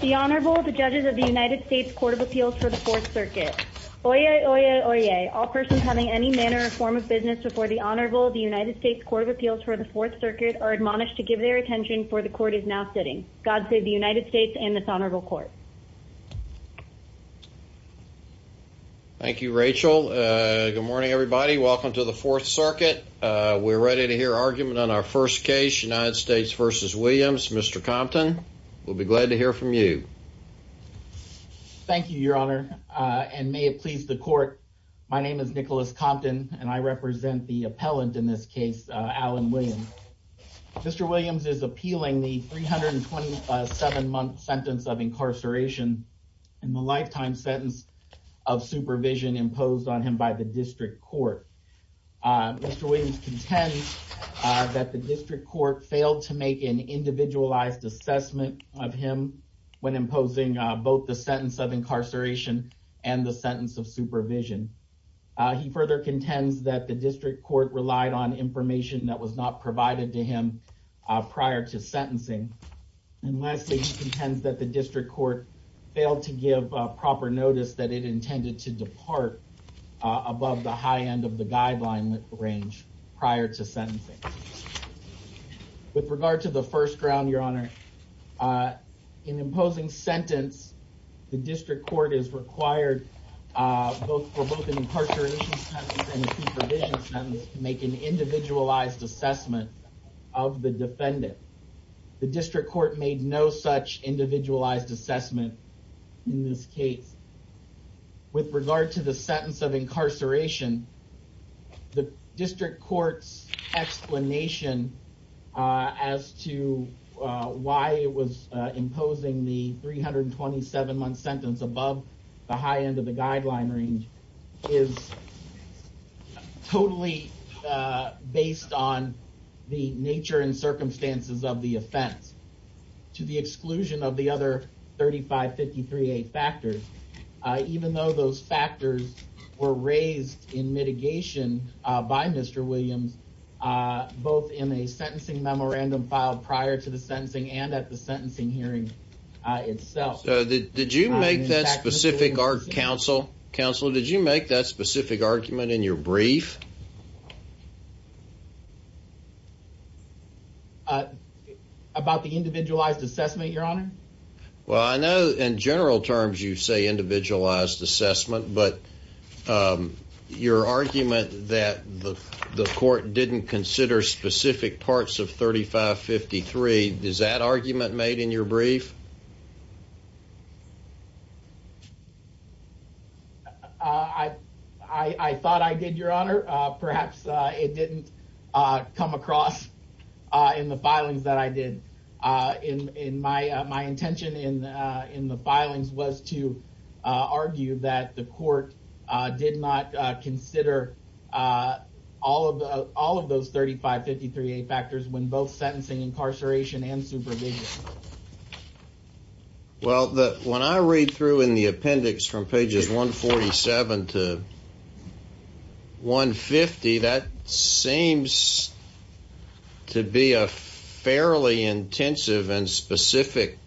The Honorable, the Judges of the United States Court of Appeals for the Fourth Circuit. Oyez, oyez, oyez. All persons having any manner or form of business before the Honorable of the United States Court of Appeals for the Fourth Circuit are admonished to give their attention, for the Court is now sitting. God save the United States and this Honorable Court. Thank you, Rachel. Good morning, everybody. Welcome to the Fourth Circuit. We're ready to hear argument on our first case, United States v. Williams. Mr. Compton, we'll be glad to hear from you. Thank you, Your Honor, and may it please the Court. My name is Nicholas Compton, and I represent the appellant in this case, Alan Williams. Mr. Williams is appealing the 327-month sentence of incarceration and the lifetime sentence of supervision imposed on him by the District Court. Mr. Williams contends that the District Court failed to make an individualized assessment of him when imposing both the sentence of incarceration and the sentence of supervision. He further contends that the District Court relied on information that was not provided to him prior to sentencing. And lastly, he contends that the District Court failed to give proper notice that it intended to depart above the high end of the guideline range prior to sentencing. With regard to the first ground, Your Honor, in imposing sentence, the District Court is required for both an incarceration sentence and a supervision sentence to make an individualized assessment of the defendant. The District Court made no such individualized assessment in this case. With regard to the sentence of incarceration, the District Court's explanation as to why it was imposing the 327-month sentence above the high end of the guideline range is totally based on the nature and circumstances of the offense, to the exclusion of the other 3553A factors. Even though those factors were raised in mitigation by Mr. Williams, both in a sentencing memorandum filed prior to the sentencing and at the sentencing hearing itself. Counsel, did you make that specific argument in your brief? About the individualized assessment, Your Honor? Well, I know in general terms you say individualized assessment, but your argument that the court didn't consider specific parts of 3553, is that argument made in your brief? I thought I did, Your Honor. Perhaps it didn't come across in the filings that I did. My intention in the filings was to argue that the court did not consider all of those 3553A factors when both sentencing, incarceration, and supervision. Well, when I read through in the appendix from pages 147 to 150, that seems to be a fairly intensive and specific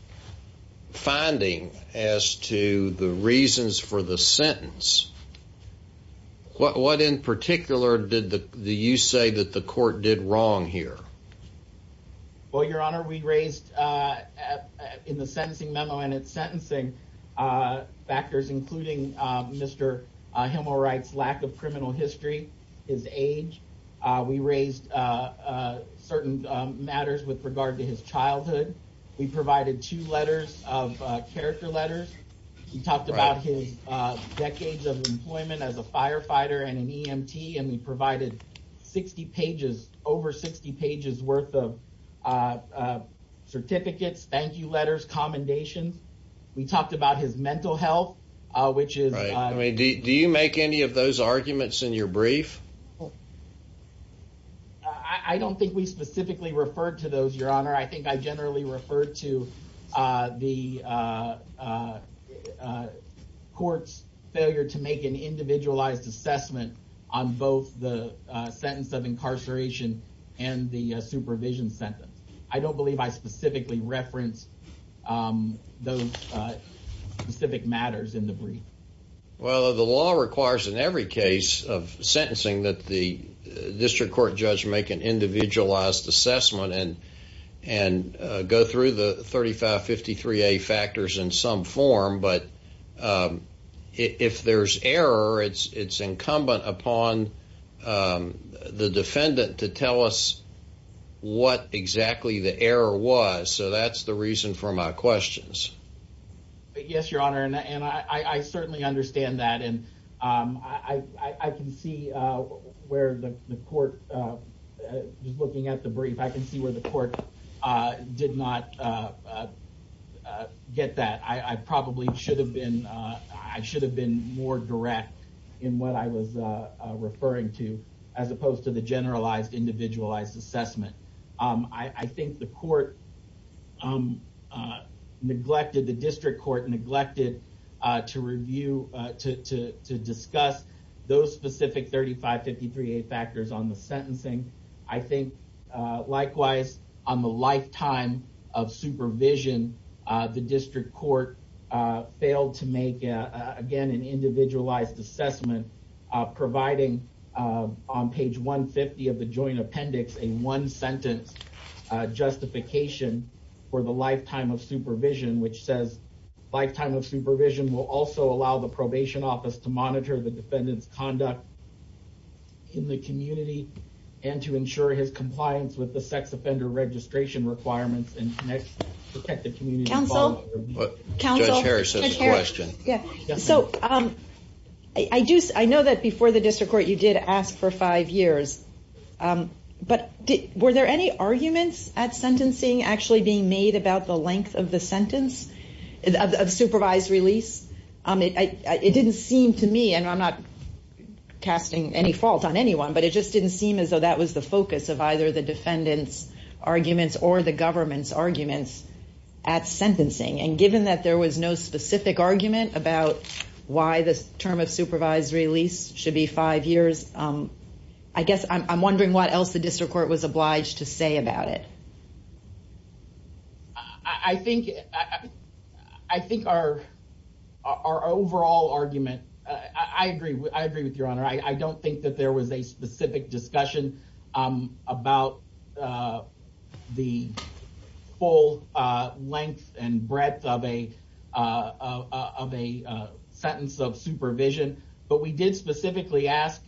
finding as to the reasons for the sentence. What in particular did you say that the court did wrong here? Well, Your Honor, we raised in the sentencing memo and its sentencing factors, including Mr. Hemelwright's lack of criminal history, his age. We raised certain matters with regard to his childhood. We provided two letters of character letters. We talked about his decades of employment as a firefighter and an EMT, and we provided over 60 pages worth of certificates, thank you letters, commendations. We talked about his mental health, which is... Do you make any of those arguments in your brief? I don't think we specifically referred to those, Your Honor. I think I generally referred to the court's failure to make an individualized assessment on both the sentence of incarceration and the supervision sentence. I don't believe I specifically referenced those specific matters in the brief. Well, the law requires in every case of sentencing that the district court judge make an individualized assessment and go through the 3553A factors in some form. But if there's error, it's incumbent upon the defendant to tell us what exactly the error was. So that's the reason for my questions. Yes, Your Honor, and I certainly understand that. And I can see where the court, just looking at the brief, I can see where the court did not get that. I probably should have been more direct in what I was referring to, as opposed to the generalized individualized assessment. I think the district court neglected to discuss those specific 3553A factors on the sentencing. I think, likewise, on the lifetime of supervision, the district court failed to make, again, an individualized assessment, providing on page 150 of the joint appendix, a one-sentence justification for the lifetime of supervision, which says, lifetime of supervision will also allow the probation office to monitor the defendant's conduct in the community and to ensure his compliance with the sex offender registration requirements and protect the community. Counsel? Counsel? Judge Harris has a question. So I know that before the district court you did ask for five years, but were there any arguments at sentencing actually being made about the length of the sentence, of supervised release? It didn't seem to me, and I'm not casting any fault on anyone, but it just didn't seem as though that was the focus of either the defendant's arguments or the government's arguments at sentencing. And given that there was no specific argument about why the term of supervised release should be five years, I guess I'm wondering what else the district court was obliged to say about it. I think our overall argument, I agree with your honor, I don't think that there was a specific discussion about the full length and breadth of a sentence of supervision. But we did specifically ask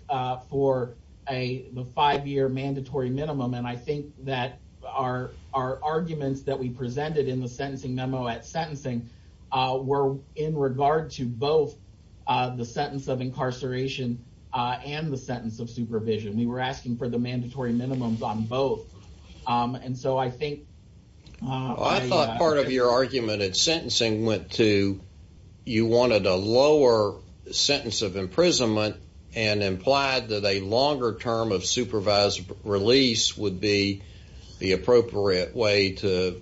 for the five-year mandatory minimum, and I think that our arguments that we presented in the sentencing memo at sentencing were in regard to both the sentence of incarceration and the sentence of supervision. We were asking for the mandatory minimums on both. I thought part of your argument at sentencing went to you wanted a lower sentence of imprisonment and implied that a longer term of supervised release would be the appropriate way to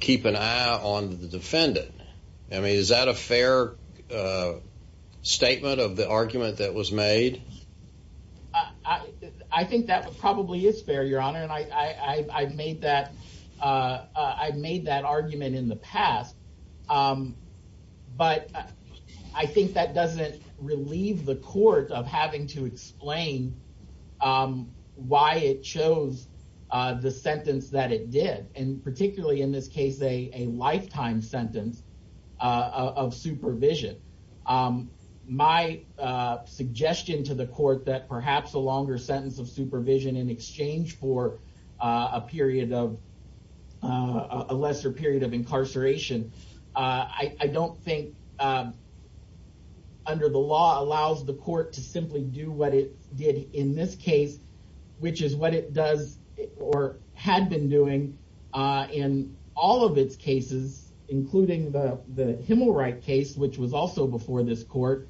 keep an eye on the defendant. Is that a fair statement of the argument that was made? I think that probably is fair, your honor, and I've made that argument in the past. But I think that doesn't relieve the court of having to explain why it chose the sentence that it did, and particularly in this case a lifetime sentence of supervision. My suggestion to the court that perhaps a longer sentence of supervision in exchange for a lesser period of incarceration, I don't think under the law allows the court to simply do what it did in this case, which is what it does or had been doing in all of its cases, including the Himmelreich case, which was also before this court,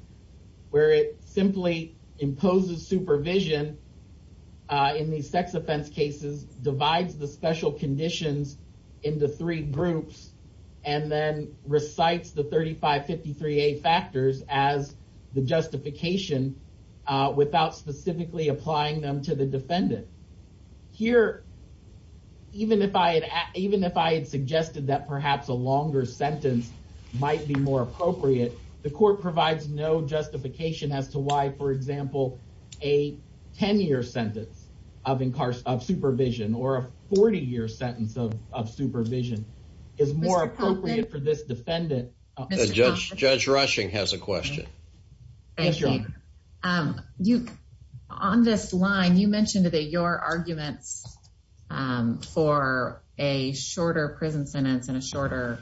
where it simply imposes supervision in these sex offense cases, divides the special conditions into three groups, and then recites the 3553A factors as the justification without specifically applying them to the defendant. Here, even if I had suggested that perhaps a longer sentence might be more appropriate, the court provides no justification as to why, for example, a 10-year sentence of supervision or a 40-year sentence of supervision is more appropriate for this defendant. Judge Rushing has a question. Thank you. On this line, you mentioned that your arguments for a shorter prison sentence and a shorter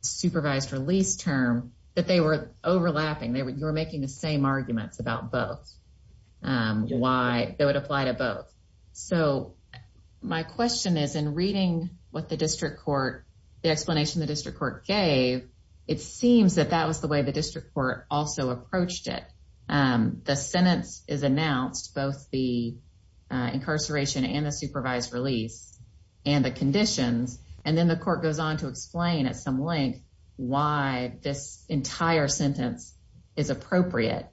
supervised release term, that they were overlapping. You were making the same arguments about both, why they would apply to both. My question is, in reading the explanation the district court gave, it seems that that was the way the district court also approached it. The sentence is announced, both the incarceration and the supervised release and the conditions, and then the court goes on to explain at some length why this entire sentence is appropriate.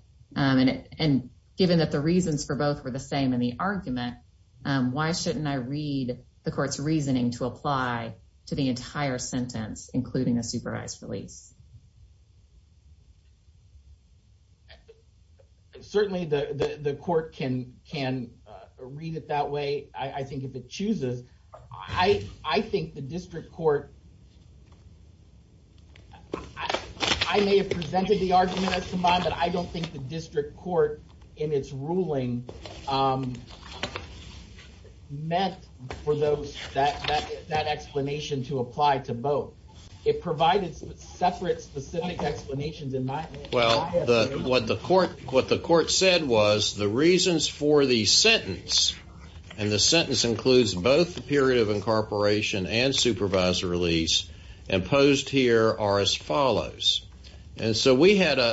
Given that the reasons for both were the same in the argument, why shouldn't I read the court's reasoning to apply to the entire sentence, including the supervised release? Certainly, the court can read it that way, I think, if it chooses. I may have presented the argument as combined, but I don't think the district court, in its ruling, meant for that explanation to apply to both. It provided separate, specific explanations in my opinion. What the court said was, the reasons for the sentence, and the sentence includes both the period of incorporation and supervised release, imposed here are as follows. Following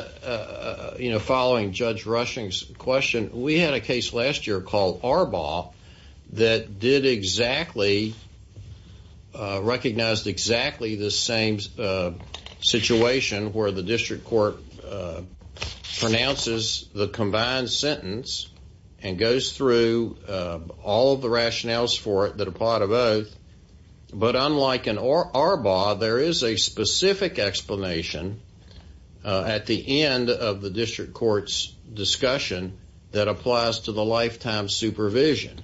Judge Rushing's question, we had a case last year called Arbaugh that recognized exactly the same situation where the district court pronounces the combined sentence and goes through all of the rationales for it that apply to both. Unlike in Arbaugh, there is a specific explanation at the end of the district court's discussion that applies to the lifetime supervision.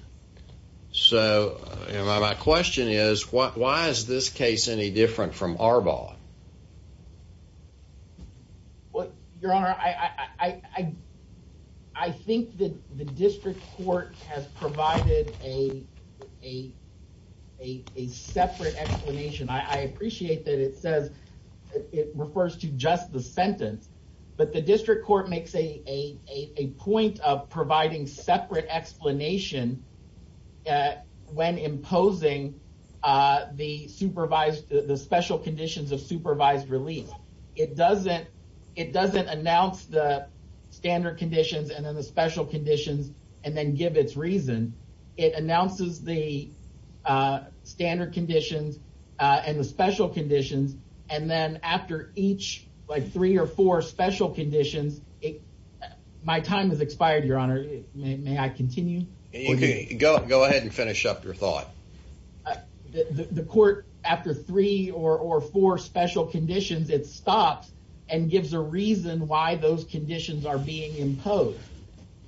My question is, why is this case any different from Arbaugh? Your Honor, I think the district court has provided a separate explanation. I appreciate that it refers to just the sentence, but the district court makes a point of providing separate explanation when imposing the special conditions of supervised release. It doesn't announce the standard conditions and then the special conditions and then give its reason. It announces the standard conditions and the special conditions, and then after each three or four special conditions, my time has expired, Your Honor. May I continue? Go ahead and finish up your thought. The court, after three or four special conditions, it stops and gives a reason why those conditions are being imposed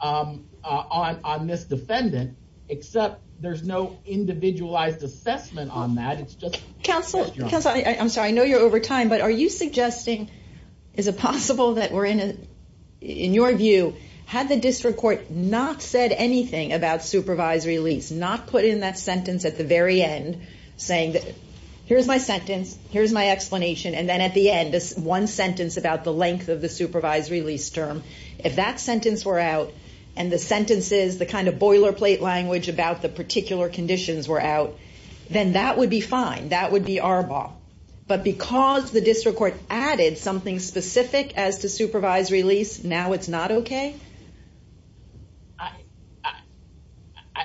on this defendant, except there's no individualized assessment on that. Counsel, I'm sorry, I know you're over time, but are you suggesting, is it possible that we're in, in your view, had the district court not said anything about supervised release, not put in that sentence at the very end saying, here's my sentence, here's my explanation, and then at the end, this one sentence about the length of the supervised release term, if that sentence were out and the sentences, the kind of boilerplate language about the particular conditions were out, then that would be fine. That would be our ball. But because the district court added something specific as to supervised release, now it's not okay?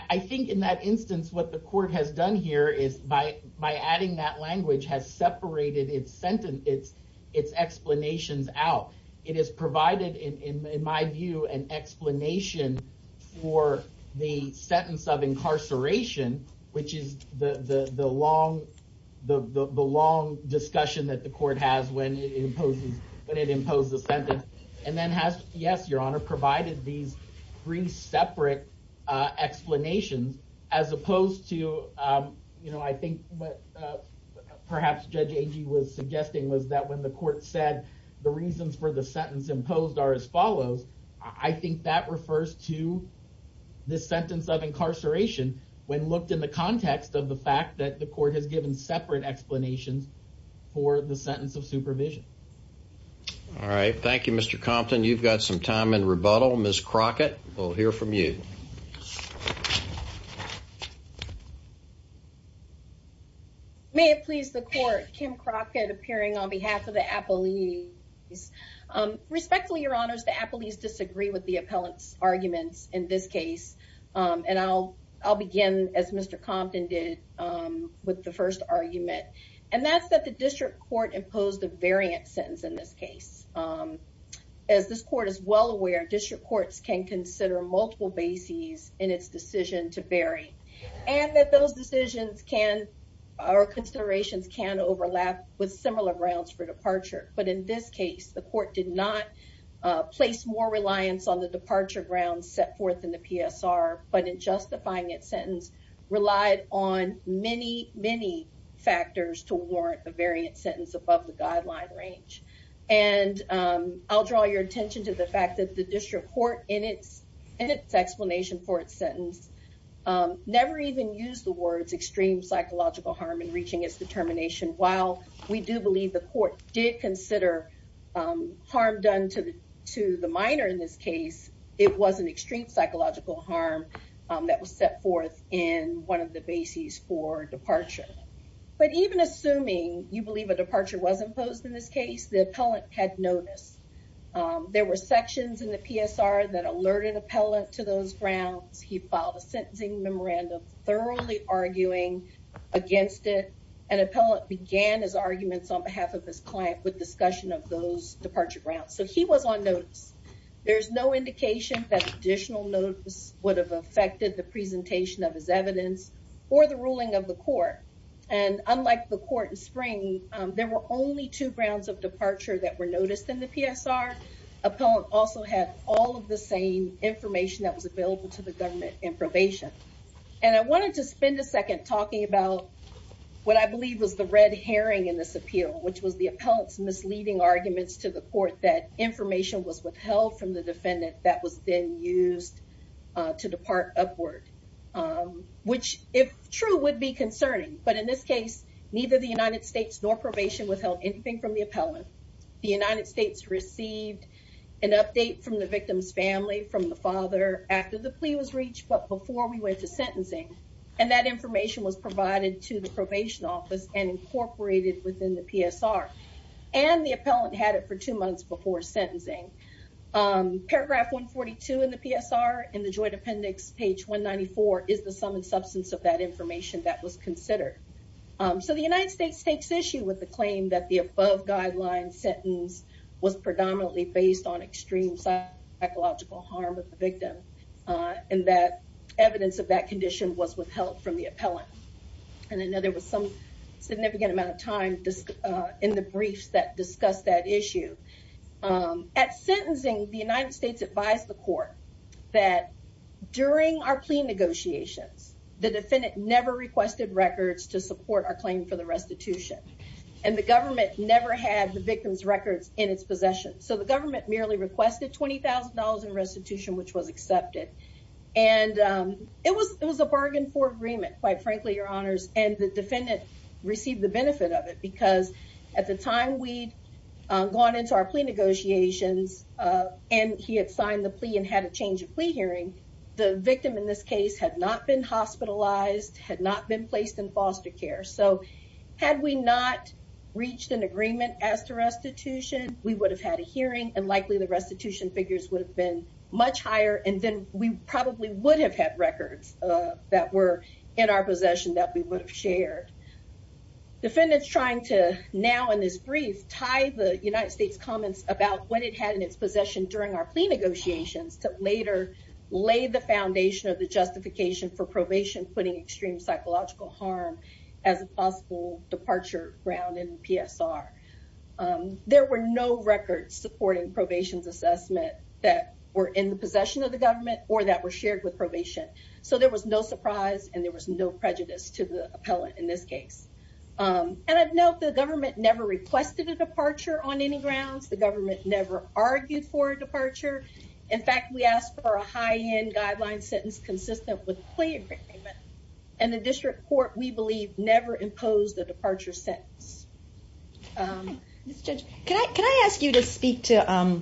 I think in that instance, what the court has done here is by adding that language, has separated its sentence, its explanations out. It has provided, in my view, an explanation for the sentence of incarceration, which is the long discussion that the court has when it imposes a sentence, and then has, yes, your honor, provided these three separate explanations as opposed to, you know, I think what perhaps Judge Agee was suggesting was that when the court said the reasons for the sentence imposed are as follows, I think that refers to the sentence of incarceration when looked in the context of the fact that the court has given separate explanations for the sentence of supervision. All right, thank you, Mr. Compton. You've got some time in rebuttal. Ms. Crockett, we'll hear from you. May it please the court, Kim Crockett appearing on behalf of the appellees. Respectfully, your honors, the appellees disagree with the appellant's arguments in this case, and I'll begin as Mr. Compton did with the first argument, and that's that the district court imposed a variant sentence in this case. As this court is well aware, district courts can consider multiple bases in its decision to vary, and that those decisions can, or considerations can overlap with similar grounds for departure. But in this case, the court did not place more reliance on the departure grounds set forth in the PSR, but in justifying its sentence, relied on many, many factors to warrant a variant sentence above the guideline range. And I'll draw your attention to the fact that the district court, in its explanation for its sentence, never even used the words extreme psychological harm in reaching its determination. While we do believe the court did consider harm done to the minor in this case, it was an extreme psychological harm that was set forth in one of the bases for departure. But even assuming you believe a departure was imposed in this case, the appellant had noticed. There were sections in the PSR that alerted appellant to those grounds. He filed a sentencing memorandum thoroughly arguing against it, and appellant began his arguments on behalf of his client with discussion of those departure grounds. So he was on notice. There's no indication that additional notice would have affected the presentation of his evidence or the ruling of the court. And unlike the court in spring, there were only two grounds of departure that were noticed in the PSR. Appellant also had all of the same information that was available to the government in probation. And I wanted to spend a second talking about what I believe was the red herring in this appeal, which was the appellant's misleading arguments to the court that information was withheld from the defendant that was then used to depart upward. Which, if true, would be concerning. But in this case, neither the United States nor probation withheld anything from the appellant. The United States received an update from the victim's family from the father after the plea was reached, but before we went to sentencing. And that information was provided to the probation office and incorporated within the PSR. And the appellant had it for two months before sentencing. Paragraph 142 in the PSR, in the joint appendix, page 194, is the sum and substance of that information that was considered. So the United States takes issue with the claim that the above guideline sentence was predominantly based on extreme psychological harm of the victim. And that evidence of that condition was withheld from the appellant. And I know there was some significant amount of time in the briefs that discussed that issue. At sentencing, the United States advised the court that during our plea negotiations, the defendant never requested records to support our claim for the restitution. And the government never had the victim's records in its possession. So the government merely requested $20,000 in restitution, which was accepted. And it was a bargain for agreement, quite frankly, your honors. And the defendant received the benefit of it because at the time we'd gone into our plea negotiations and he had signed the plea and had a change of plea hearing, the victim in this case had not been hospitalized, had not been placed in foster care. So had we not reached an agreement as to restitution, we would have had a hearing and likely the restitution figures would have been much higher. And then we probably would have had records that were in our possession that we would have shared. Defendants trying to now in this brief tie the United States comments about what it had in its possession during our plea negotiations to later lay the foundation of the justification for probation, putting extreme psychological harm as a possible departure ground in PSR. There were no records supporting probation's assessment that were in the possession of the government or that were shared with probation. So there was no surprise and there was no prejudice to the appellant in this case. And I know the government never requested a departure on any grounds. In fact, we asked for a high end guideline sentence consistent with the plea agreement. And the district court, we believe, never imposed the departure sentence. Can I ask you to speak to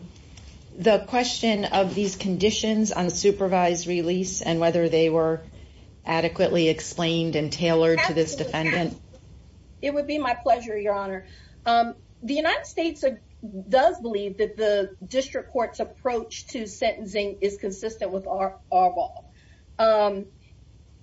the question of these conditions on supervised release and whether they were adequately explained and tailored to this defendant? It would be my pleasure, Your Honor. The United States does believe that the district court's approach to sentencing is consistent with our law.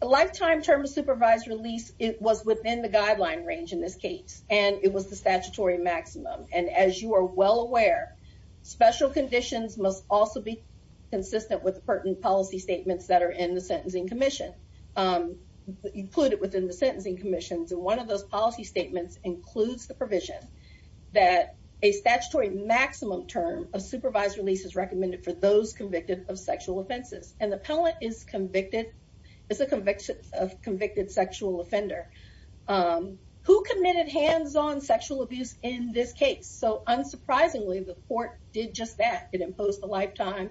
A lifetime term of supervised release was within the guideline range in this case, and it was the statutory maximum. And as you are well aware, special conditions must also be consistent with pertinent policy statements that are in the Sentencing Commission, included within the Sentencing Commission. And one of those policy statements includes the provision that a statutory maximum term of supervised release is recommended for those convicted of sexual offenses. And the appellant is a convicted sexual offender who committed hands-on sexual abuse in this case. So unsurprisingly, the court did just that. It imposed a lifetime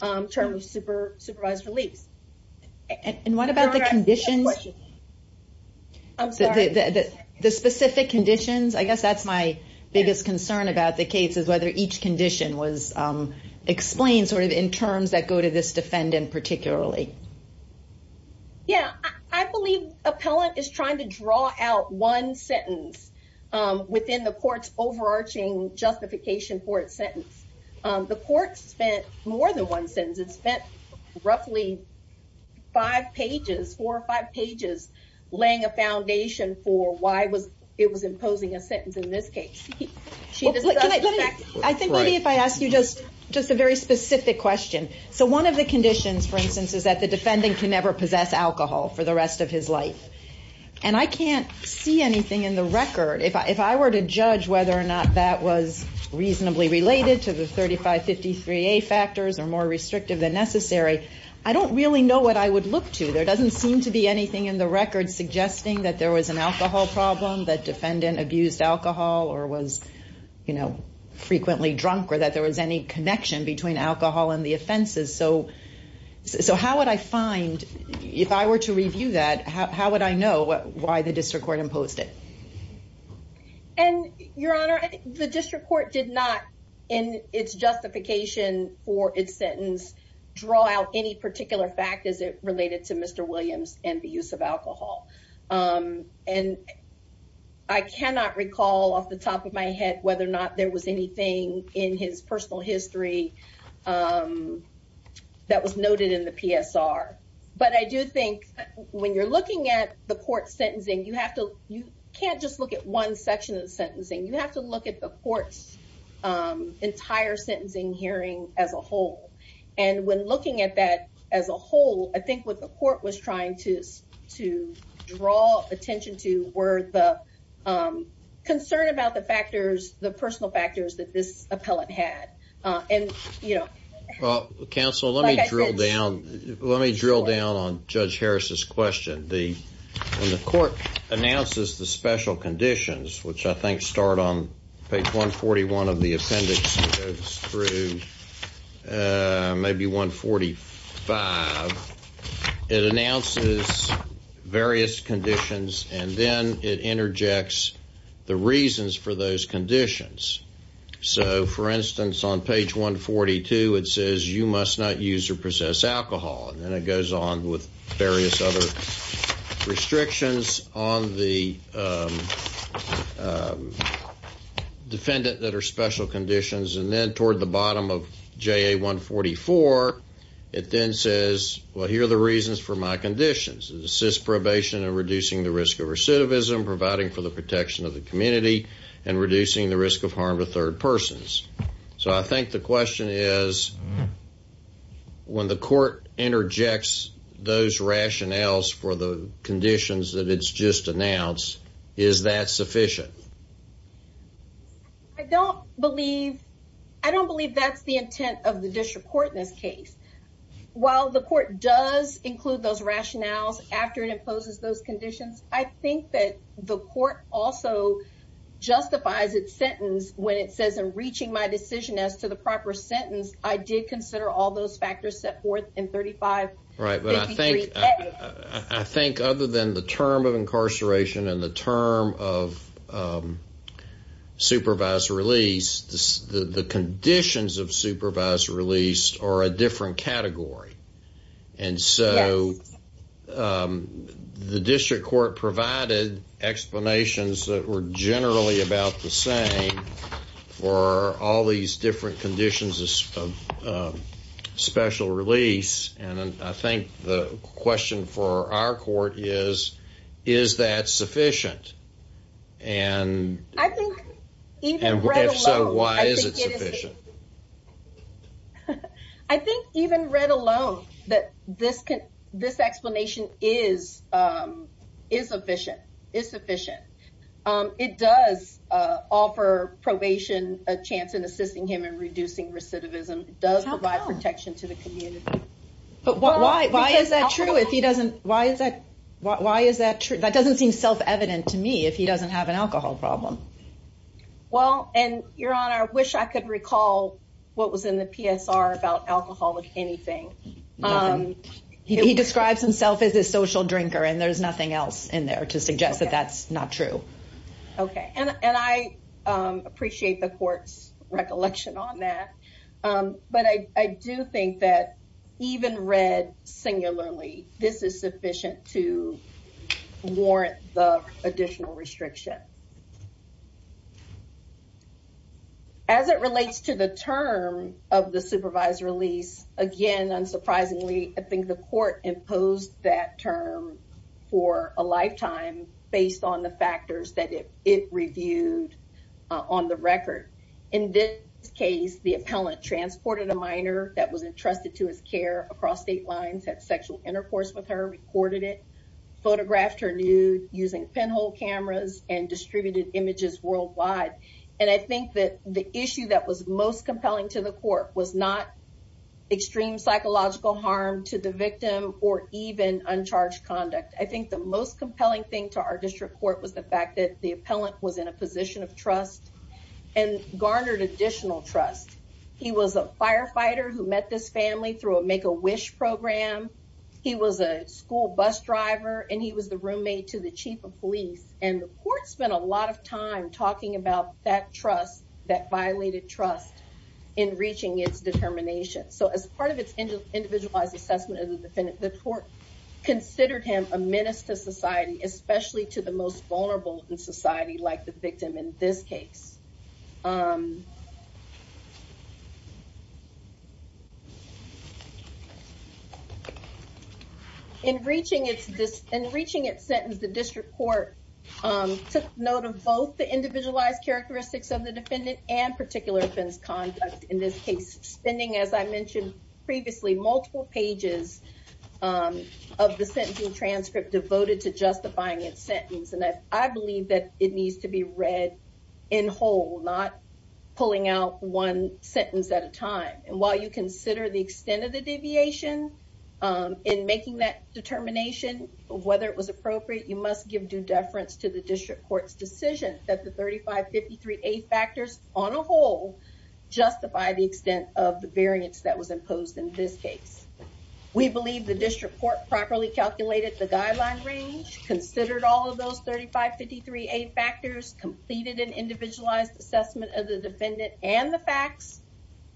term of supervised release. And what about the conditions? I'm sorry. The specific conditions? I guess that's my biggest concern about the case, is whether each condition was explained sort of in terms that go to this defendant particularly. Yeah, I believe appellant is trying to draw out one sentence within the court's overarching justification for its sentence. The court spent more than one sentence. It spent roughly five pages, four or five pages, laying a foundation for why it was imposing a sentence in this case. I think maybe if I ask you just a very specific question. So one of the conditions, for instance, is that the defendant can never possess alcohol for the rest of his life. And I can't see anything in the record. If I were to judge whether or not that was reasonably related to the 3553A factors or more restrictive than necessary, I don't really know what I would look to. There doesn't seem to be anything in the record suggesting that there was an alcohol problem, that defendant abused alcohol or was, you know, frequently drunk, or that there was any connection between alcohol and the offenses. So how would I find, if I were to review that, how would I know why the district court imposed it? And, Your Honor, the district court did not, in its justification for its sentence, draw out any particular fact as it related to Mr. Williams and the use of alcohol. And I cannot recall off the top of my head whether or not there was anything in his personal history that was noted in the PSR. But I do think when you're looking at the court sentencing, you have to, you can't just look at one section of the sentencing. You have to look at the court's entire sentencing hearing as a whole. And when looking at that as a whole, I think what the court was trying to draw attention to were the concern about the factors, the personal factors that this appellant had. Well, counsel, let me drill down on Judge Harris's question. When the court announces the special conditions, which I think start on page 141 of the appendix through maybe 145, it announces various conditions and then it interjects the reasons for those conditions. So, for instance, on page 142, it says, you must not use or possess alcohol. And then it goes on with various other restrictions on the defendant that are special conditions. And then toward the bottom of JA 144, it then says, well, here are the reasons for my conditions. It assists probation in reducing the risk of recidivism, providing for the protection of the community, and reducing the risk of harm to third persons. So I think the question is, when the court interjects those rationales for the conditions that it's just announced, is that sufficient? I don't believe, I don't believe that's the intent of the district court in this case. While the court does include those rationales after it imposes those conditions, I think that the court also justifies its sentence when it says, I'm reaching my decision as to the proper sentence. I did consider all those factors set forth in 3553. Right, but I think other than the term of incarceration and the term of supervised release, the conditions of supervised release are a different category. And so the district court provided explanations that were generally about the same for all these different conditions of special release. And I think the question for our court is, is that sufficient? And if so, why is it sufficient? I think even read alone that this explanation is sufficient. It does offer probation a chance in assisting him in reducing recidivism. It does provide protection to the community. But why is that true if he doesn't, why is that true? That doesn't seem self-evident to me if he doesn't have an alcohol problem. Well, and Your Honor, I wish I could recall what was in the PSR about alcoholic anything. He describes himself as a social drinker and there's nothing else in there to suggest that that's not true. Okay, and I appreciate the court's recollection on that. But I do think that even read singularly, this is sufficient to warrant the additional restriction. As it relates to the term of the supervised release, again, unsurprisingly, I think the court imposed that term for a lifetime based on the factors that it reviewed on the record. In this case, the appellant transported a minor that was entrusted to his care across state lines, had sexual intercourse with her, recorded it, photographed her nude using pinhole cameras and distributed images worldwide. And I think that the issue that was most compelling to the court was not extreme psychological harm to the victim or even uncharged conduct. I think the most compelling thing to our district court was the fact that the appellant was in a position of trust. And garnered additional trust. He was a firefighter who met this family through a Make-A-Wish program. He was a school bus driver and he was the roommate to the chief of police. And the court spent a lot of time talking about that trust, that violated trust in reaching its determination. So as part of its individualized assessment of the defendant, the court considered him a menace to society, especially to the most vulnerable in society like the victim in this case. In reaching its sentence, the district court took note of both the individualized characteristics of the defendant and particular offense conduct in this case. Spending, as I mentioned previously, multiple pages of the sentencing transcript devoted to justifying its sentence. And I believe that it needs to be read in whole, not pulling out one sentence at a time. And while you consider the extent of the deviation in making that determination of whether it was appropriate, you must give due deference to the district court's decision that the 3553A factors on a whole justify the extent of the variance that was imposed in this case. We believe the district court properly calculated the guideline range, considered all of those 3553A factors, completed an individualized assessment of the defendant and the facts,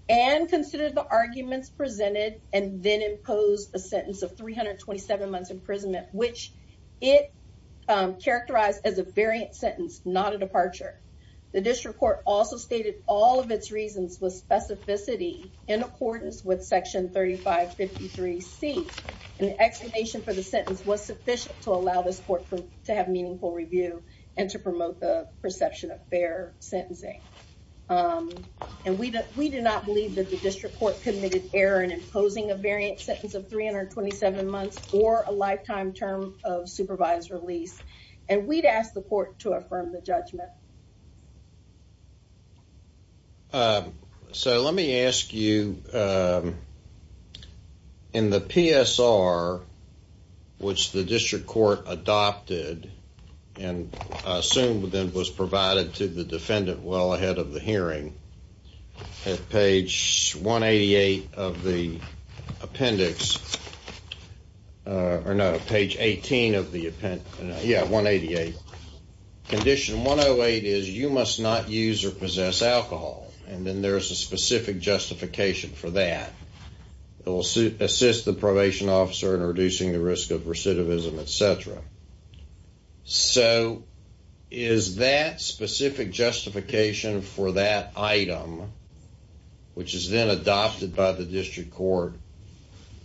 and considered the arguments presented and then imposed a sentence of 327 months imprisonment, which it characterized as a variant sentence, not a departure. The district court also stated all of its reasons with specificity in accordance with section 3553C. And the explanation for the sentence was sufficient to allow this court to have meaningful review and to promote the perception of fair sentencing. And we do not believe that the district court committed error in imposing a variant sentence of 327 months or a lifetime term of supervised release. And we'd ask the court to affirm the judgment. So let me ask you, in the PSR, which the district court adopted and assumed then was provided to the defendant well ahead of the hearing, at page 188 of the appendix, or no, page 18 of the appendix, yeah, 188, condition 108 is you must not use or possess alcohol, and then there's a specific justification for that. It will assist the probation officer in reducing the risk of recidivism, et cetera. So is that specific justification for that item, which is then adopted by the district court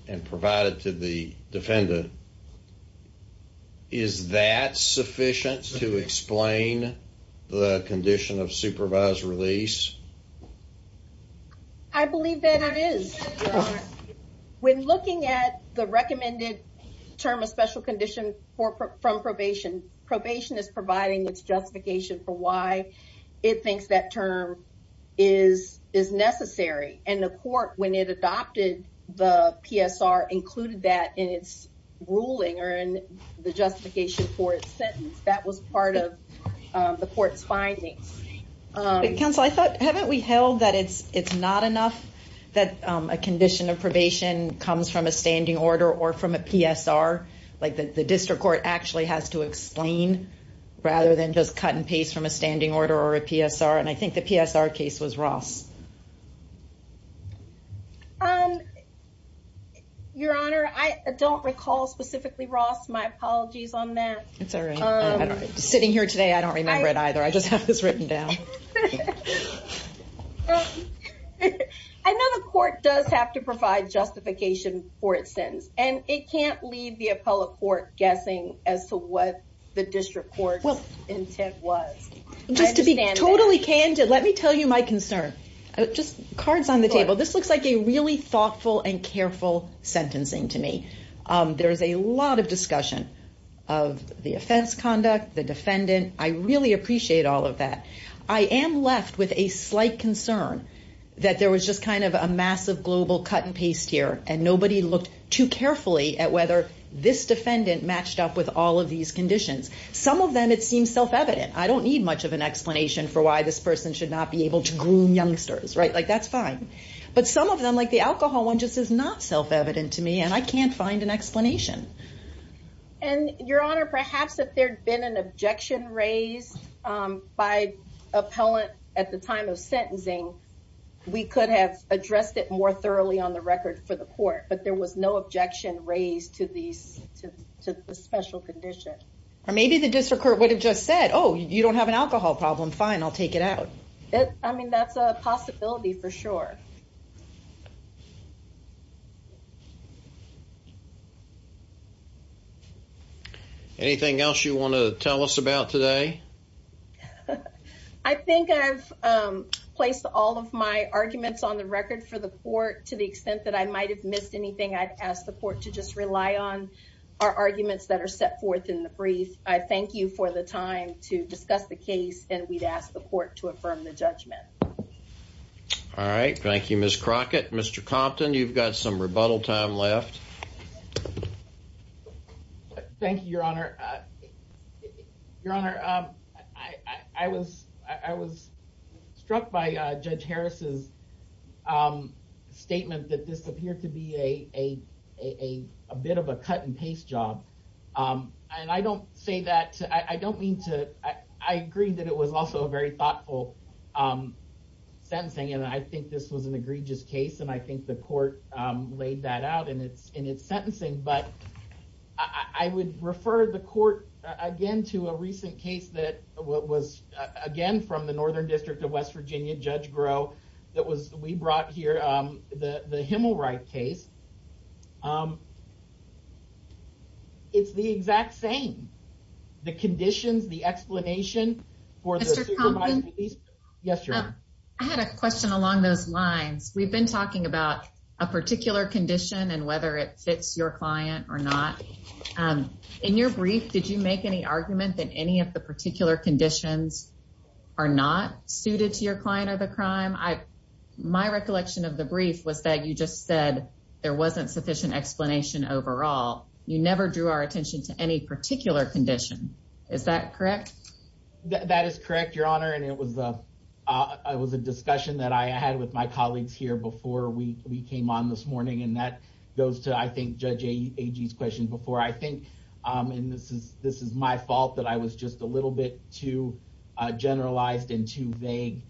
and provided to the defendant, is that sufficient to explain the condition of supervised release? I believe that it is. When looking at the recommended term of special condition from probation, probation is providing its justification for why it thinks that term is necessary. And the court, when it adopted the PSR, included that in its ruling or in the justification for its sentence. That was part of the court's findings. Counsel, I thought, haven't we held that it's not enough that a condition of probation comes from a standing order or from a PSR? Like the district court actually has to explain rather than just cut and paste from a standing order or a PSR. And I think the PSR case was Ross. Your Honor, I don't recall specifically, Ross, my apologies on that. It's all right. Sitting here today, I don't remember it either. I just have this written down. I know the court does have to provide justification for its sentence. And it can't leave the appellate court guessing as to what the district court's intent was. Just to be totally candid, let me tell you my concern. Just cards on the table. This looks like a really thoughtful and careful sentencing to me. There is a lot of discussion of the offense conduct, the defendant. I really appreciate all of that. I am left with a slight concern that there was just kind of a massive global cut and paste here. And nobody looked too carefully at whether this defendant matched up with all of these conditions. Some of them, it seems self-evident. I don't need much of an explanation for why this person should not be able to groom youngsters. Like, that's fine. But some of them, like the alcohol one, just is not self-evident to me. And I can't find an explanation. And, Your Honor, perhaps if there had been an objection raised by appellant at the time of sentencing, we could have addressed it more thoroughly on the record for the court. But there was no objection raised to the special condition. Or maybe the district court would have just said, Oh, you don't have an alcohol problem, fine, I'll take it out. I mean, that's a possibility for sure. Anything else you want to tell us about today? I think I've placed all of my arguments on the record for the court to the extent that I might have missed anything. I'd ask the court to just rely on our arguments that are set forth in the brief. I thank you for the time to discuss the case. And we'd ask the court to affirm the judgment. All right. Thank you, Ms. Crockett. Mr. Compton, you've got some rebuttal time left. Thank you, Your Honor. Your Honor, I was struck by Judge Harris's statement that this appeared to be a bit of a cut and paste job. And I don't say that, I don't mean to, I agree that it was also a very thoughtful sentencing. And I think this was an egregious case. And I think the court laid that out in its sentencing. But I would refer the court, again, to a recent case that was, again, from the Northern District of West Virginia, Judge Groh. That was, we brought here the Himmelreich case. It's the exact same. The conditions, the explanation for the supervising police. Mr. Compton? Yes, Your Honor. I had a question along those lines. We've been talking about a particular condition and whether it fits your client or not. In your brief, did you make any argument that any of the particular conditions are not suited to your client of the crime? My recollection of the brief was that you just said there wasn't sufficient explanation overall. You never drew our attention to any particular condition. Is that correct? That is correct, Your Honor. And it was a discussion that I had with my colleagues here before we came on this morning. And that goes to, I think, Judge Agee's question before. I think, and this is my fault, that I was just a little bit too generalized and too vague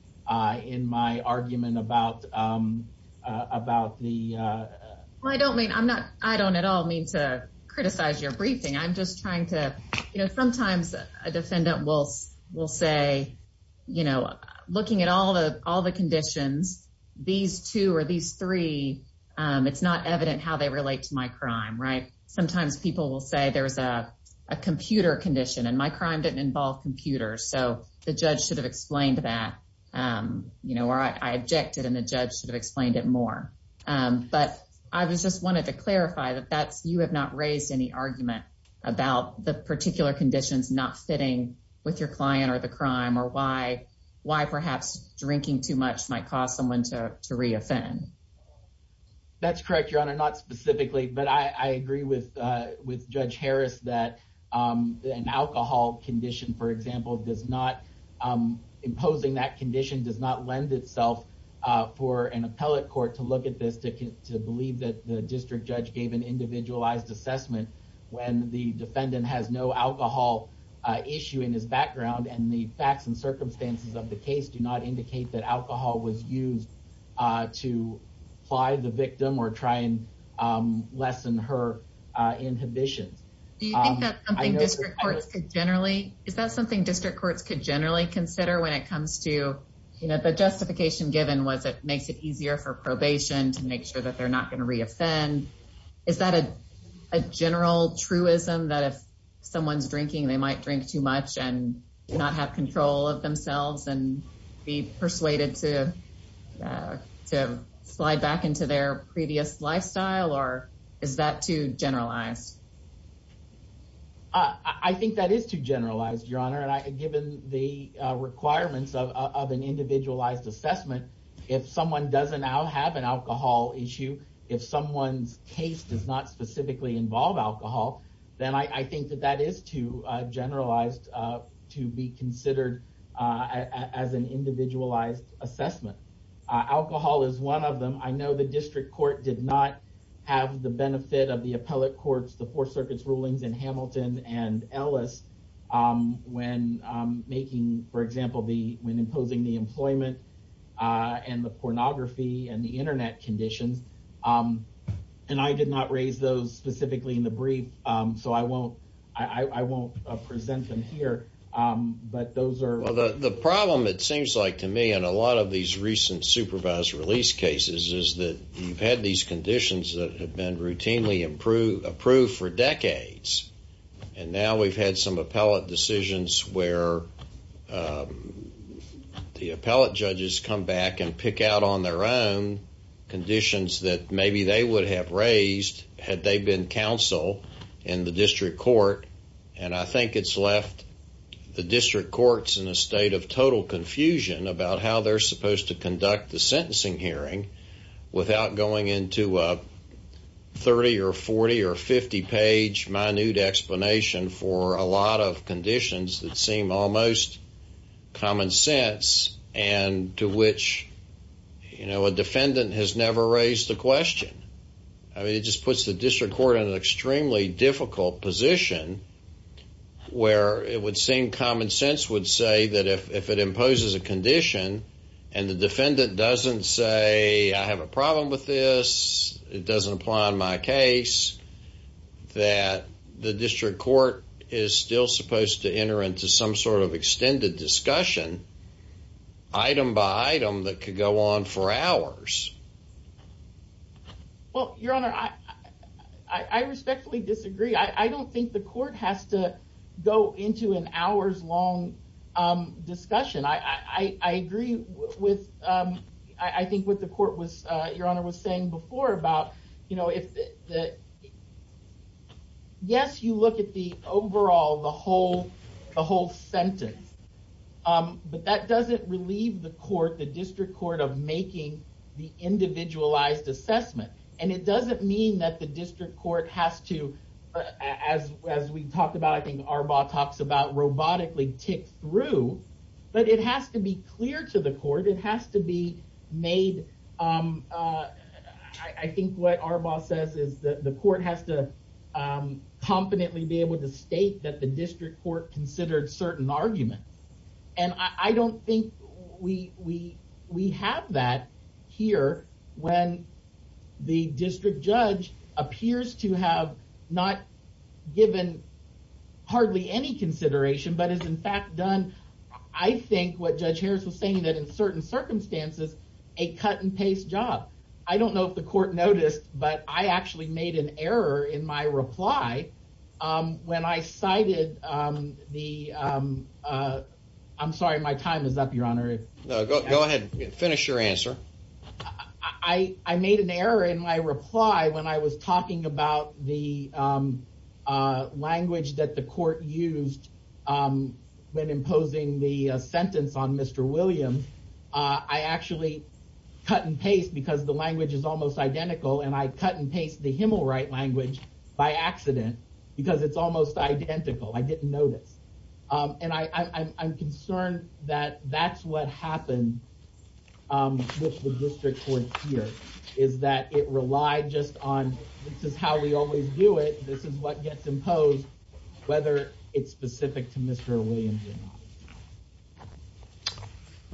in my argument about the ‑‑ Well, I don't mean, I'm not, I don't at all mean to criticize your briefing. I'm just trying to, you know, sometimes a defendant will say, you know, looking at all the conditions, these two or these three, it's not evident how they relate to my crime, right? Sometimes people will say there's a computer condition, and my crime didn't involve computers. So the judge should have explained that, you know, or I objected and the judge should have explained it more. But I just wanted to clarify that you have not raised any argument about the particular conditions not fitting with your client or the crime or why perhaps drinking too much might cause someone to reoffend. That's correct, Your Honor. Not specifically, but I agree with Judge Harris that an alcohol condition, for example, does not, imposing that condition does not lend itself for an appellate court to look at this, to believe that the district judge gave an individualized assessment when the defendant has no alcohol issue in his background and the facts and circumstances of the case do not indicate that alcohol was used to apply the victim or try and lessen her inhibitions. Do you think that's something district courts could generally, is that something district courts could generally consider when it comes to, you know, the justification given was it makes it easier for probation to make sure that they're not going to reoffend? Is that a general truism that if someone's drinking, they might drink too much and not have control of themselves and be persuaded to slide back into their previous lifestyle? Or is that too generalized? I think that is too generalized, Your Honor, and given the requirements of an individualized assessment, if someone doesn't have an alcohol issue, if someone's case does not specifically involve alcohol, then I think that that is too generalized to be considered as an individualized assessment. Alcohol is one of them. I know the district court did not have the benefit of the appellate courts, the Fourth Circuit's rulings in Hamilton and Ellis when making, for example, when imposing the employment and the pornography and the Internet conditions. And I did not raise those specifically in the brief, so I won't present them here. The problem, it seems like to me, in a lot of these recent supervised release cases is that you've had these conditions that have been routinely approved for decades, and now we've had some appellate decisions where the appellate judges come back and pick out on their own conditions that maybe they would have raised had they been counsel in the district court. And I think it's left the district courts in a state of total confusion about how they're supposed to conduct the sentencing hearing without going into a 30- or 40- or 50-page minute explanation for a lot of conditions that seem almost common sense and to which a defendant has never raised a question. I mean, it just puts the district court in an extremely difficult position where it would seem common sense would say that if it imposes a condition and the defendant doesn't say, I have a problem with this, it doesn't apply in my case, that the district court is still supposed to enter into some sort of extended discussion, item by item, that could go on for hours. Well, Your Honor, I respectfully disagree. I don't think the court has to go into an hours-long discussion. I agree with, I think, what the court was, Your Honor, was saying before about, you know, but that doesn't relieve the court, the district court, of making the individualized assessment. And it doesn't mean that the district court has to, as we talked about, I think Arbaugh talks about, robotically tick through. But it has to be clear to the court. It has to be made, I think what Arbaugh says is that the court has to competently be able to state that the district court considered certain arguments. And I don't think we have that here, when the district judge appears to have not given hardly any consideration, but has in fact done, I think what Judge Harris was saying, that in certain circumstances, a cut-and-paste job. I don't know if the court noticed, but I actually made an error in my reply when I cited the, I'm sorry, my time is up, Your Honor. No, go ahead, finish your answer. I made an error in my reply when I was talking about the language that the court used when imposing the sentence on Mr. Williams. I actually cut-and-paste, because the language is almost identical, and I cut-and-paste the Himmelright language by accident, because it's almost identical. I didn't notice. And I'm concerned that that's what happened with the district court here, is that it relied just on, this is how we always do it, this is what gets imposed, whether it's specific to Mr. Williams or not.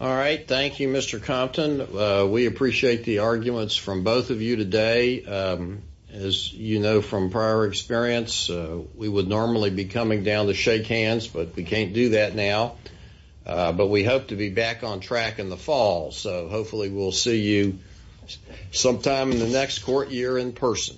All right, thank you, Mr. Compton. We appreciate the arguments from both of you today. As you know from prior experience, we would normally be coming down to shake hands, but we can't do that now. But we hope to be back on track in the fall, so hopefully we'll see you sometime in the next court year in person.